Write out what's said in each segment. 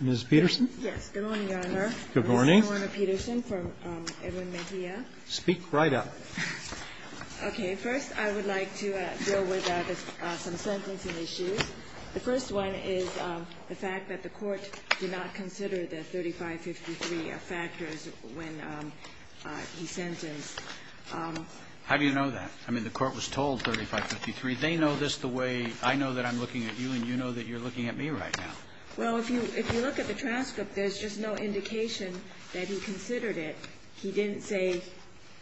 Ms. Peterson. Yes. Good morning, Your Honor. Good morning. Ms. Norna Peterson from Edwin Mejia. Speak right up. Okay. First, I would like to deal with some sentencing issues. The first one is the fact that the Court did not consider the 3553 factors when he sentenced. How do you know that? I mean, the Court was told 3553. They know this the way I know that I'm looking at you, and you know that you're looking at me right now. Well, if you look at the transcript, there's just no indication that he considered it. He didn't say,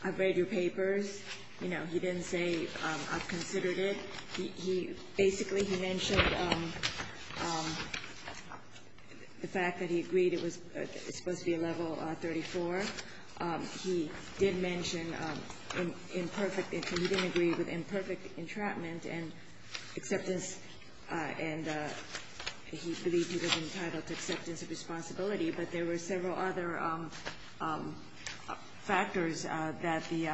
I've read your papers. You know, he didn't say, I've considered it. He basically, he mentioned the fact that he agreed it was supposed to be a level 34. He did mention imperfect, and he didn't agree with imperfect entrapment and acceptance and he believed he was entitled to acceptance of responsibility. But there were several other factors that the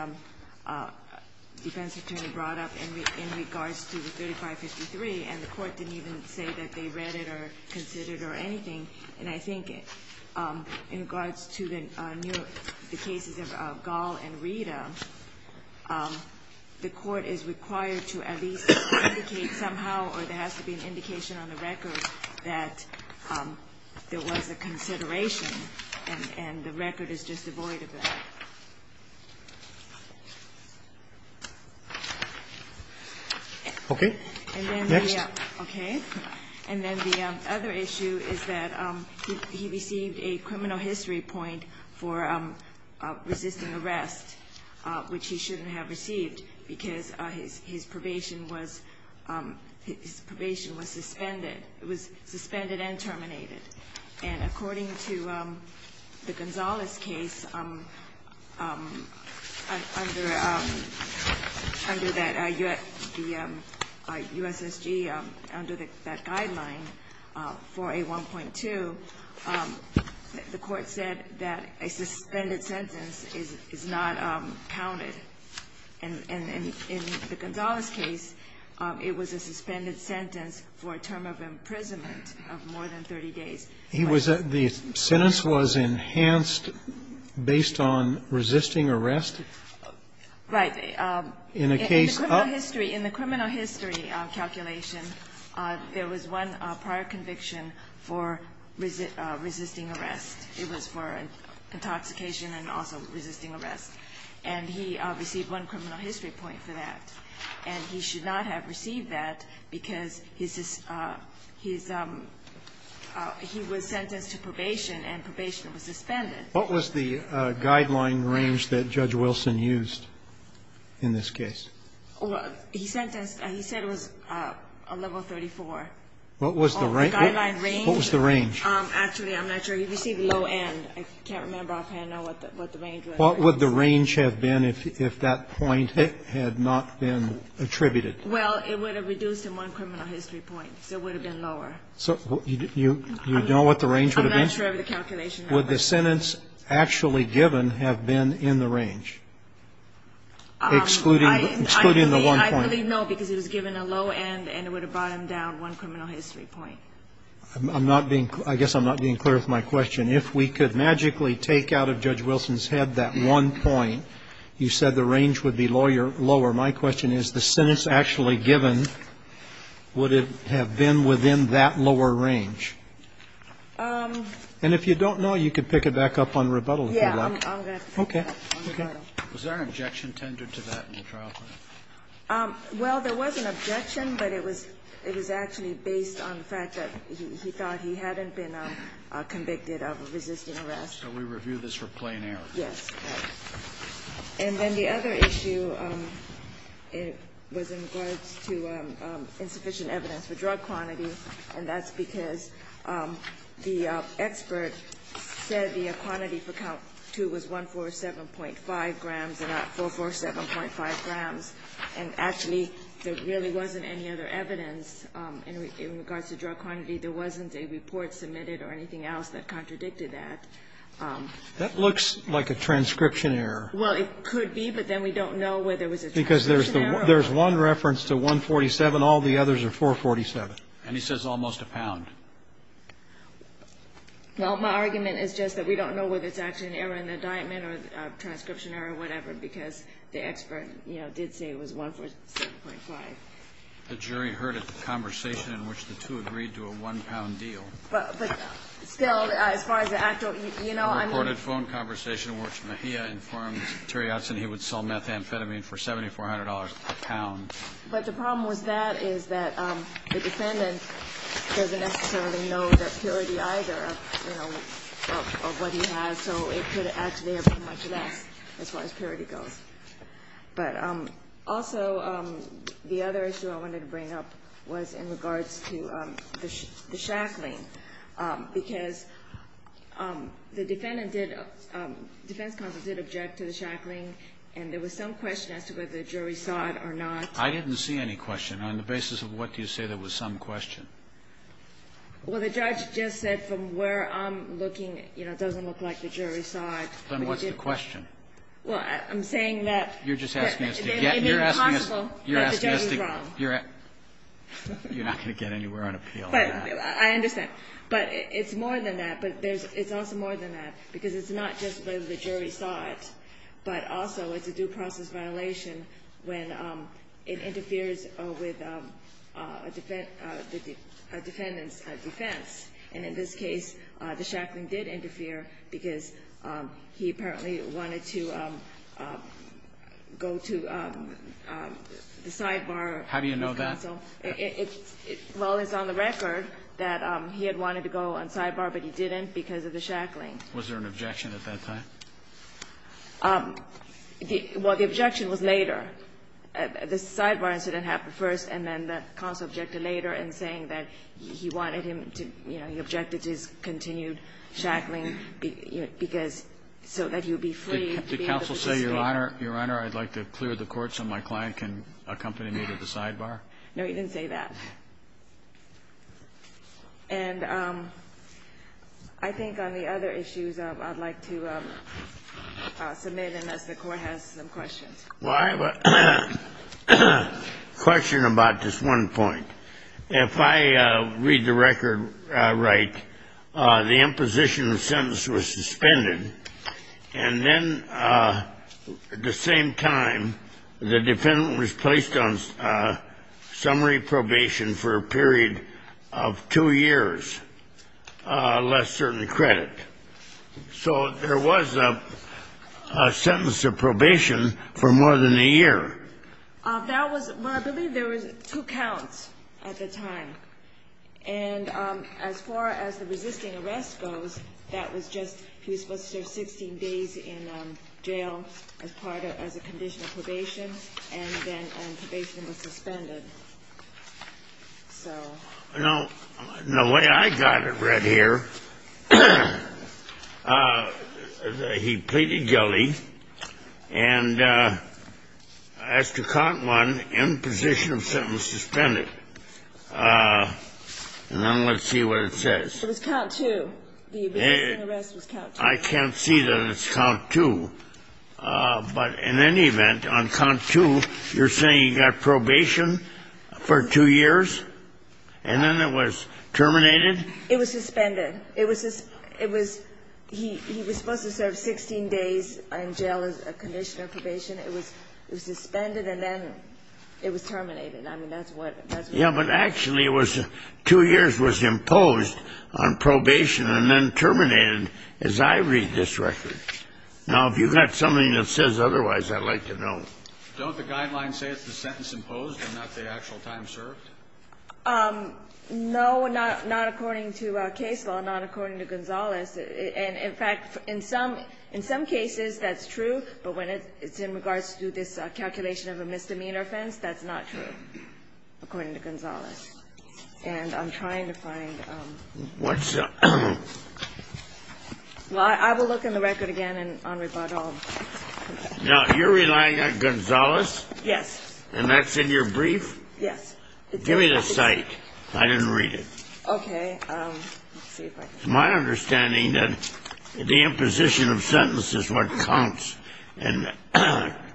defense attorney brought up in regards to the 3553, and the Court didn't even say that they read it or considered it or anything. And I think in regards to the new, the cases of Gall and Rita, the Court is required to at least indicate somehow, or there has to be an indication on the record, that there was a consideration, and the record is just devoid of that. Okay. Next. Okay. And then the other issue is that he received a criminal history point for resisting arrest, which he shouldn't have received because his probation was suspended. It was suspended and terminated. And according to the Gonzales case, under that, the U.S.S.G. under that guideline, 4A1.2, the Court said that a suspended sentence is not counted. And in the Gonzales case, it was a suspended sentence for a term of imprisonment of more than 30 days. He was at the sentence was enhanced based on resisting arrest? Right. In a case of the criminal history. In a calculation, there was one prior conviction for resisting arrest. It was for intoxication and also resisting arrest. And he received one criminal history point for that. And he should not have received that because he was sentenced to probation and probation was suspended. What was the guideline range that Judge Wilson used in this case? He said it was a level 34. What was the range? Actually, I'm not sure. He received low end. I can't remember offhand what the range was. What would the range have been if that point had not been attributed? Well, it would have reduced him one criminal history point, so it would have been lower. So you know what the range would have been? I'm not sure of the calculation. Would the sentence actually given have been in the range? Excluding the one point. I believe no, because he was given a low end and it would have brought him down one criminal history point. I'm not being clear. I guess I'm not being clear with my question. If we could magically take out of Judge Wilson's head that one point, you said the range would be lower. My question is the sentence actually given, would it have been within that lower range? And if you don't know, you could pick it back up on rebuttal, if you like. Yes, I'm going to pick it up on rebuttal. Okay. Was there an objection tendered to that in the trial plan? Well, there was an objection, but it was actually based on the fact that he thought he hadn't been convicted of resisting arrest. So we review this for plain error. Yes. And then the other issue was in regards to insufficient evidence for drug quantity. And that's because the expert said the quantity for count 2 was 147.5 grams and not 447.5 grams. And actually, there really wasn't any other evidence in regards to drug quantity. There wasn't a report submitted or anything else that contradicted that. That looks like a transcription error. Well, it could be, but then we don't know whether it was a transcription error. Because there's one reference to 147, all the others are 447. And he says almost a pound. Well, my argument is just that we don't know whether it's actually an error in the indictment or transcription error or whatever, because the expert, you know, did say it was 147.5. The jury heard a conversation in which the two agreed to a one-pound deal. But still, as far as the actual, you know, I mean. A reported phone conversation in which Mejia informed Terry Utzon he would sell methamphetamine for $7,400 a pound. But the problem with that is that the defendant doesn't necessarily know the purity either of, you know, of what he has. So it could actually have been much less as far as purity goes. But also, the other issue I wanted to bring up was in regards to the shackling. Because the defendant did, defense counsel did object to the shackling. And there was some question as to whether the jury saw it or not. I didn't see any question. On the basis of what do you say there was some question? Well, the judge just said from where I'm looking, you know, it doesn't look like the jury saw it. Then what's the question? Well, I'm saying that. You're just asking us to get. It may be possible. You're asking us to. That the jury was wrong. You're not going to get anywhere on appeal. But I understand. But it's more than that. But there's, it's also more than that. Because it's not just whether the jury saw it, but also it's a due process violation when it interferes with a defendant's defense. And in this case, the shackling did interfere because he apparently wanted to go to the sidebar. How do you know that? It's on the record that he had wanted to go on sidebar, but he didn't because of the shackling. Was there an objection at that time? Well, the objection was later. The sidebar incident happened first, and then the counsel objected later in saying that he wanted him to, you know, he objected to his continued shackling because so that he would be free. Did counsel say, Your Honor, Your Honor, I'd like to clear the court so my client can accompany me to the sidebar? No, he didn't say that. And I think on the other issues, I'd like to submit unless the court has some questions. Well, I have a question about this one point. If I read the record right, the imposition of sentence was suspended, and then at the same time, the defendant was placed on summary probation for a period of two years, less certain credit. So there was a sentence of probation for more than a year. That was, well, I believe there was two counts at the time. And as far as the resisting arrest goes, that was just, he was supposed to serve 16 days in jail as part of, as a condition of probation, and then probation was suspended. So. No, the way I got it read here, he pleaded guilty, and as to count one, imposition of sentence suspended. And then let's see what it says. It was count two. The resisting arrest was count two. I can't see that it's count two, but in any event, on count two, you're saying he got probation for two years, and then it was terminated? It was suspended. It was, he was supposed to serve 16 days in jail as a condition of probation. It was suspended, and then it was terminated. I mean, that's what. Yeah, but actually it was, two years was imposed on probation, and then terminated. And as I read this record, now, if you've got something that says otherwise, I'd like to know. Don't the guidelines say it's the sentence imposed and not the actual time served? No, not according to case law, not according to Gonzales. And in fact, in some, in some cases, that's true, but when it's in regards to this calculation of a misdemeanor offense, that's not true, according to Gonzales. And I'm trying to find. What's the? Well, I will look in the record again, and on rebuttal. Now, you're relying on Gonzales? Yes. And that's in your brief? Yes. Give me the cite. I didn't read it. Okay, let's see if I can. My understanding that the imposition of sentence is what counts, and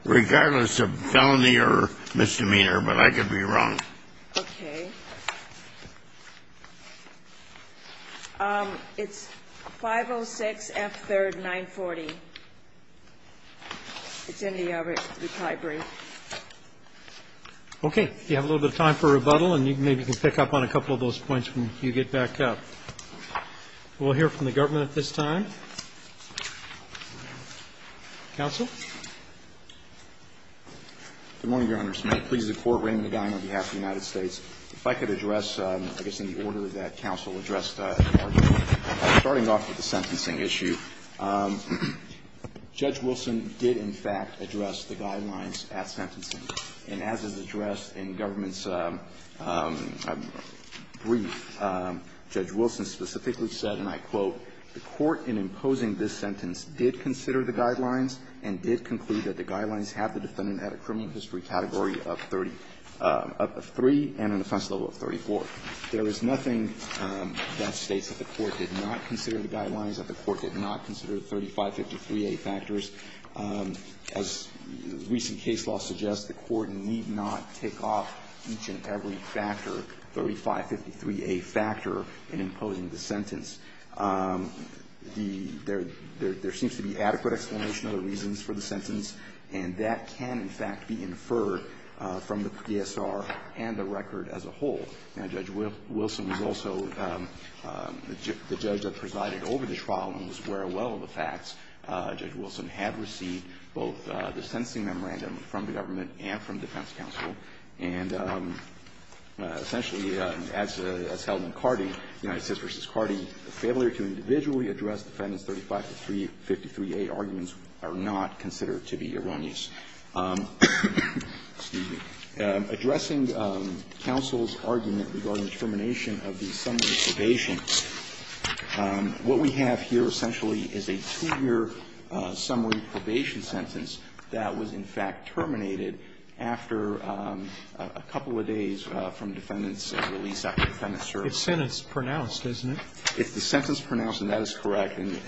regardless of felony or misdemeanor, but I could be wrong. Okay. It's 506 F3rd 940. It's in the other, the library. Okay, you have a little bit of time for rebuttal, and you maybe can pick up on a couple of those points when you get back up. We'll hear from the government at this time. Counsel? Good morning, Your Honor. Please, the court, Raymond Agon, on behalf of the United States, if I could address, I guess, in the order of that counsel, addressed the argument. Starting off with the sentencing issue, Judge Wilson did, in fact, address the guidelines at sentencing. And as is addressed in government's brief, Judge Wilson specifically said, and I quote, the court in imposing this sentence did consider the guidelines and did conclude that the guidelines have the defendant at a criminal history category of three and an offense level of 34. There is nothing that states that the court did not consider the guidelines, that the court did not consider the 3553A factors. As recent case law suggests, the court need not take off each and every factor, 3553A factor, in imposing the sentence. The – there seems to be adequate explanation of the reasons for the sentence, and that can, in fact, be inferred from the PSR and the record as a whole. Now, Judge Wilson was also the judge that presided over the trial and was aware well of the facts. Judge Wilson had received both the sentencing memorandum from the government and from defense counsel. And essentially, as held in Carty, United States v. Carty, failure to individually address Defendant's 3553A arguments are not considered to be erroneous. Addressing counsel's argument regarding the termination of the summary probation, what we have here essentially is a two-year summary probation sentence that was, in fact, terminated after a couple of days from Defendant's release after Defendant served. It's sentence-pronounced, isn't it? It's the sentence-pronounced, and that is correct. And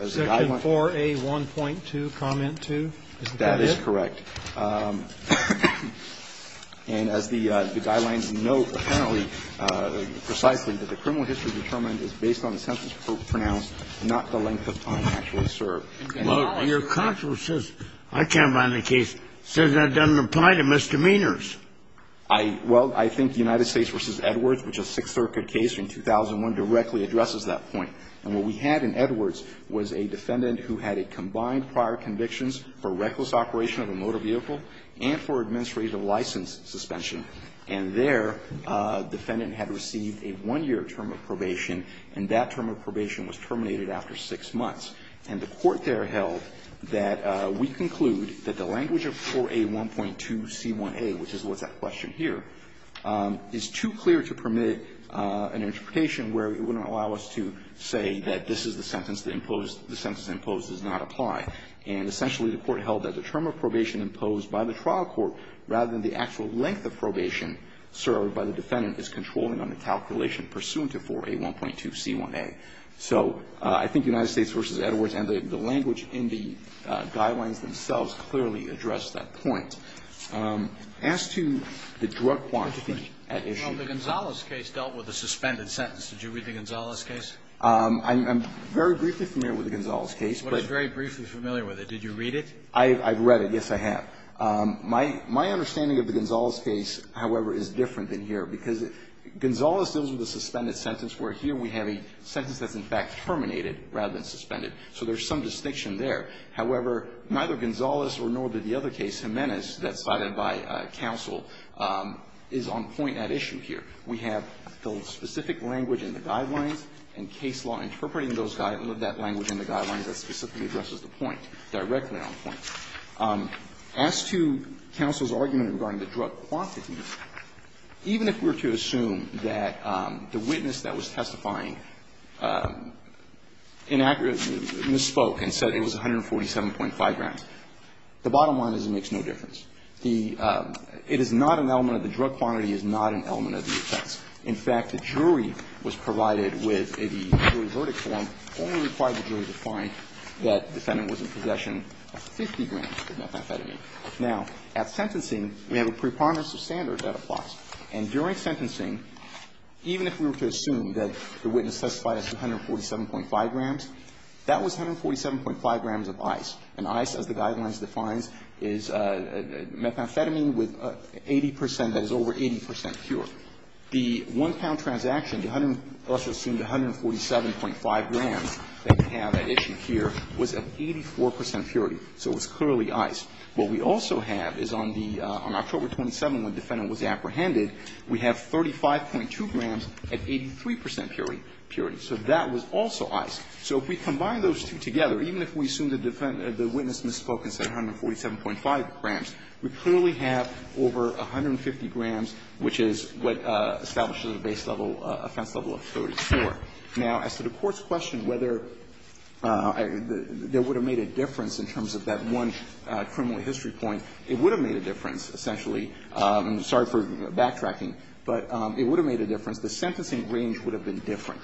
as the guideline – Section 4A1.2, comment 2, is that it? That is correct. And as the guidelines note apparently, precisely, that the criminal history determined is based on the sentence pronounced, not the length of time actually served. Well, your counsel says – I can't find the case – says that doesn't apply to misdemeanors. I – well, I think United States v. Edwards, which is a Sixth Circuit case in 2001, directly addresses that point. And what we had in Edwards was a defendant who had a combined prior convictions for reckless operation of a motor vehicle and for administrative license suspension. And there, defendant had received a one-year term of probation, and that term of probation was terminated after six months. And the court there held that we conclude that the language of 4A1.2c1a, which is what's at question here, is too clear to permit an interpretation where it wouldn't allow us to say that this is the sentence that imposed – the sentence imposed does not apply. And essentially, the court held that the term of probation imposed by the trial court rather than the actual length of probation served by the defendant is controlling on the calculation pursuant to 4A1.2c1a. So I think United States v. Edwards and the language in the guidelines themselves clearly address that point. As to the drug quantity at issue – Well, the Gonzales case dealt with a suspended sentence. Did you read the Gonzales case? I'm very briefly familiar with the Gonzales case, but – I'm very briefly familiar with it. Did you read it? I've read it, yes, I have. My understanding of the Gonzales case, however, is different than here, because Gonzales deals with a suspended sentence, where here we have a sentence that's in fact terminated rather than suspended, so there's some distinction there. However, neither Gonzales nor did the other case, Jimenez, that's cited by counsel, is on point at issue here. We have the specific language in the guidelines and case law interpreting those – that language in the guidelines that specifically addresses the point, directly on point. As to counsel's argument regarding the drug quantity, even if we were to assume that the witness that was testifying inaccurately misspoke and said it was 147.5 grams, the bottom line is it makes no difference. The – it is not an element of the drug quantity, it is not an element of the offense. In fact, the jury was provided with the jury verdict form, only required the jury to find that the defendant was in possession of 50 grams of methamphetamine. Now, at sentencing, we have a preponderance of standards that applies. And during sentencing, even if we were to assume that the witness testified as 147.5 grams, that was 147.5 grams of ice. And ice, as the guidelines defines, is methamphetamine with 80 percent, that is over 80 percent cure. The one-pound transaction, the 100 – also assumed 147.5 grams that we have at issue here, was at 84 percent purity, so it was clearly ice. What we also have is on the – on October 27th, when the defendant was apprehended, we have 35.2 grams at 83 percent purity. So that was also ice. So if we combine those two together, even if we assume the witness misspoke and said that the defendant was in possession of 50 grams of methamphetamine, we have 35.2 grams of pure ice. So that's what establishes a base level – offense level of 34. Now, as to the Court's question whether there would have made a difference in terms of that one criminal history point, it would have made a difference, essentially – sorry for backtracking – but it would have made a difference. The sentencing range would have been different,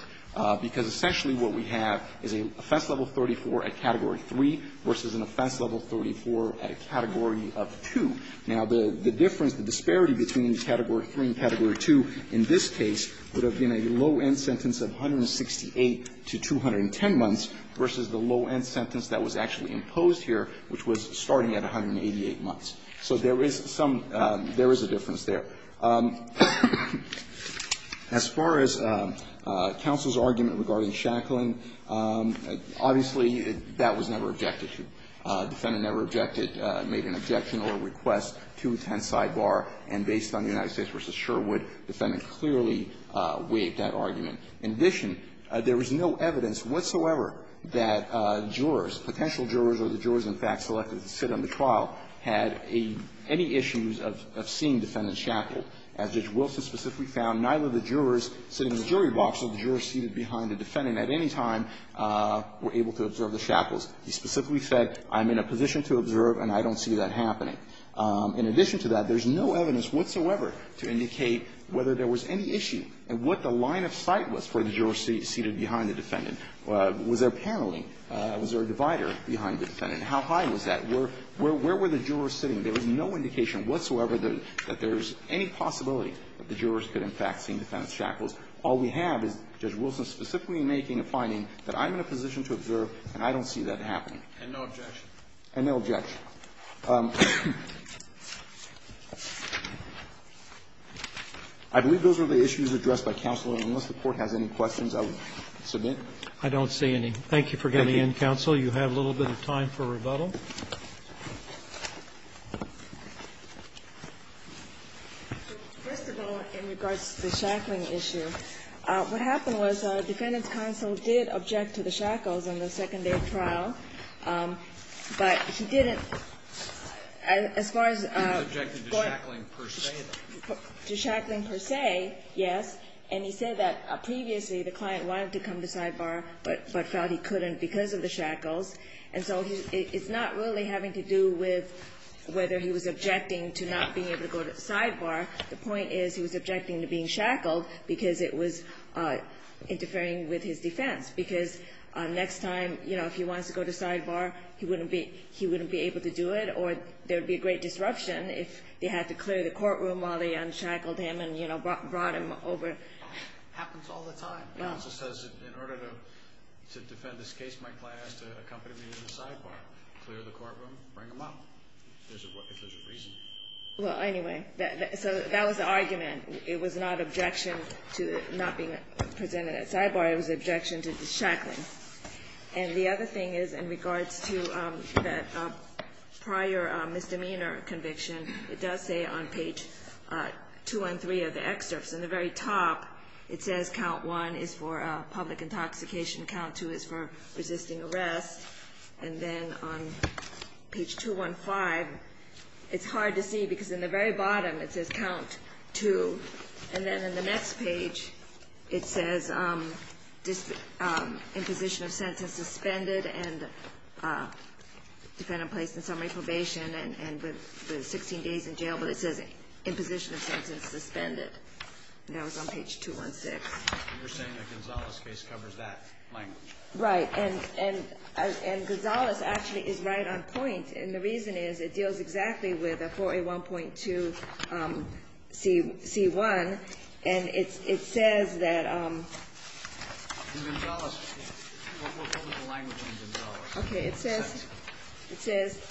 because essentially what we have is an offense level of 34 at Category 3 versus an offense level of 34 at a Category of 2. Now, the difference, the disparity between Category 3 and Category 2 in this case would have been a low-end sentence of 168 to 210 months versus the low-end sentence that was actually imposed here, which was starting at 188 months. So there is some – there is a difference there. Now, as far as counsel's argument regarding Shacklin, obviously that was never objected to. The defendant never objected – made an objection or a request to attend sidebar, and based on the United States v. Sherwood, the defendant clearly weighed that argument. In addition, there was no evidence whatsoever that jurors, potential jurors or the jurors, in fact, selected to sit on the trial, had any issues of seeing Defendant Shacklin. As Judge Wilson specifically found, neither the jurors sitting in the jury box or the jurors seated behind the defendant at any time were able to observe the Shacklins. He specifically said, I'm in a position to observe, and I don't see that happening. In addition to that, there's no evidence whatsoever to indicate whether there was any issue and what the line of sight was for the jurors seated behind the defendant. Was there a paneling? Was there a divider behind the defendant? How high was that? Where were the jurors sitting? There was no indication whatsoever that there's any possibility that the jurors could in fact see Defendant Shacklin. All we have is Judge Wilson specifically making a finding that I'm in a position to observe, and I don't see that happening. And no objection. And no objection. I believe those are the issues addressed by counsel. And unless the Court has any questions, I will submit. I don't see any. Thank you for getting in, counsel. You have a little bit of time for rebuttal. First of all, in regards to the Shacklin issue, what happened was Defendant's counsel did object to the Shacklins on the second day of trial. But he didn't, as far as the court to Shacklin per se, yes. And he said that previously the client wanted to come to sidebar, but felt he couldn't because of the Shackles. And so it's not really having to do with whether he was objecting to not being able to go to sidebar. The point is he was objecting to being shackled because it was interfering with his defense. Because next time, you know, if he wants to go to sidebar, he wouldn't be able to do it, or there would be a great disruption if they had to clear the courtroom while they unshackled him and, you know, brought him over. Happens all the time. Counsel says, in order to defend this case, my client has to accompany me to the sidebar. Clear the courtroom, bring him up, if there's a reason. Well, anyway, so that was the argument. It was not objection to not being presented at sidebar. It was objection to the Shacklins. And the other thing is, in regards to that prior misdemeanor conviction, it does say on page 2 and 3 of the excerpts, in the very top, it says, Count 1 is for public intoxication. Count 2 is for resisting arrest. And then on page 215, it's hard to see because in the very bottom, it says, Count 2. And then in the next page, it says, imposition of sentence suspended and defendant placed in summary probation and with 16 days in jail. But it says, imposition of sentence suspended. And that was on page 216. And you're saying the Gonzales case covers that language? Right. And Gonzales actually is right on point. And the reason is, it deals exactly with a 4A1.2c1. And it says that the Gonzales case We'll put the language on Gonzales. Okay. It says, it says,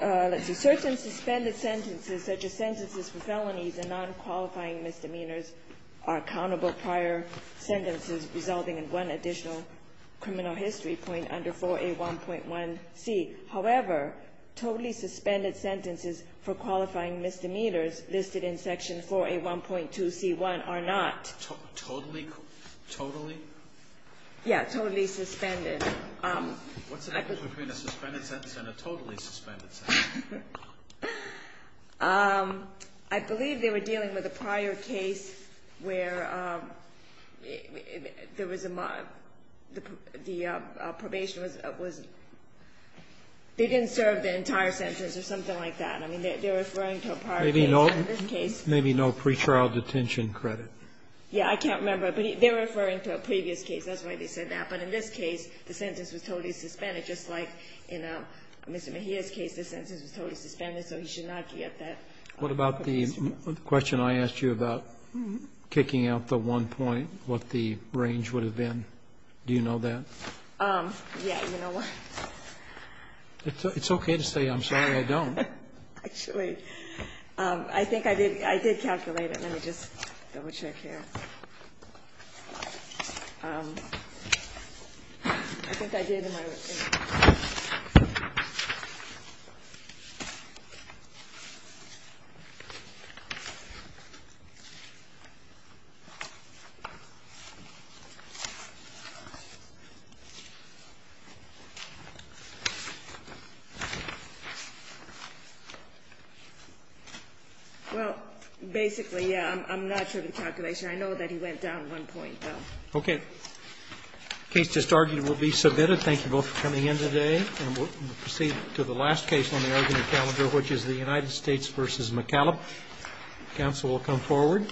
let's see. Certain suspended sentences, such as sentences for felonies and non-qualifying misdemeanors, are accountable prior sentences resulting in one additional criminal history point under 4A1.1c. However, totally suspended sentences for qualifying misdemeanors listed in Section 4A1.2c1 are not. Totally? Totally? Yeah. Totally suspended. What's the difference between a suspended sentence and a totally suspended sentence? I believe they were dealing with a prior case where there was a, the probation was, they didn't serve the entire sentence or something like that. I mean, they're referring to a prior case. Maybe no, maybe no pre-trial detention credit. Yeah, I can't remember. But they're referring to a previous case. That's why they said that. But in this case, the sentence was totally suspended, just like in Mr. Mejia's case, the sentence was totally suspended, so he should not get that. What about the question I asked you about kicking out the one point, what the range would have been? Do you know that? Yeah, you know what? It's okay to say I'm sorry I don't. Actually, I think I did, I did calculate it. Let me just double check here. I think I did. Well, basically, yeah, I'm not sure of the calculation. I know that he went down one point, though. Okay. Case just argued will be submitted. Thank you both for coming in today. And we'll proceed to the last case on the argument calendar, which is the United States v. McCallop. Counsel will come forward.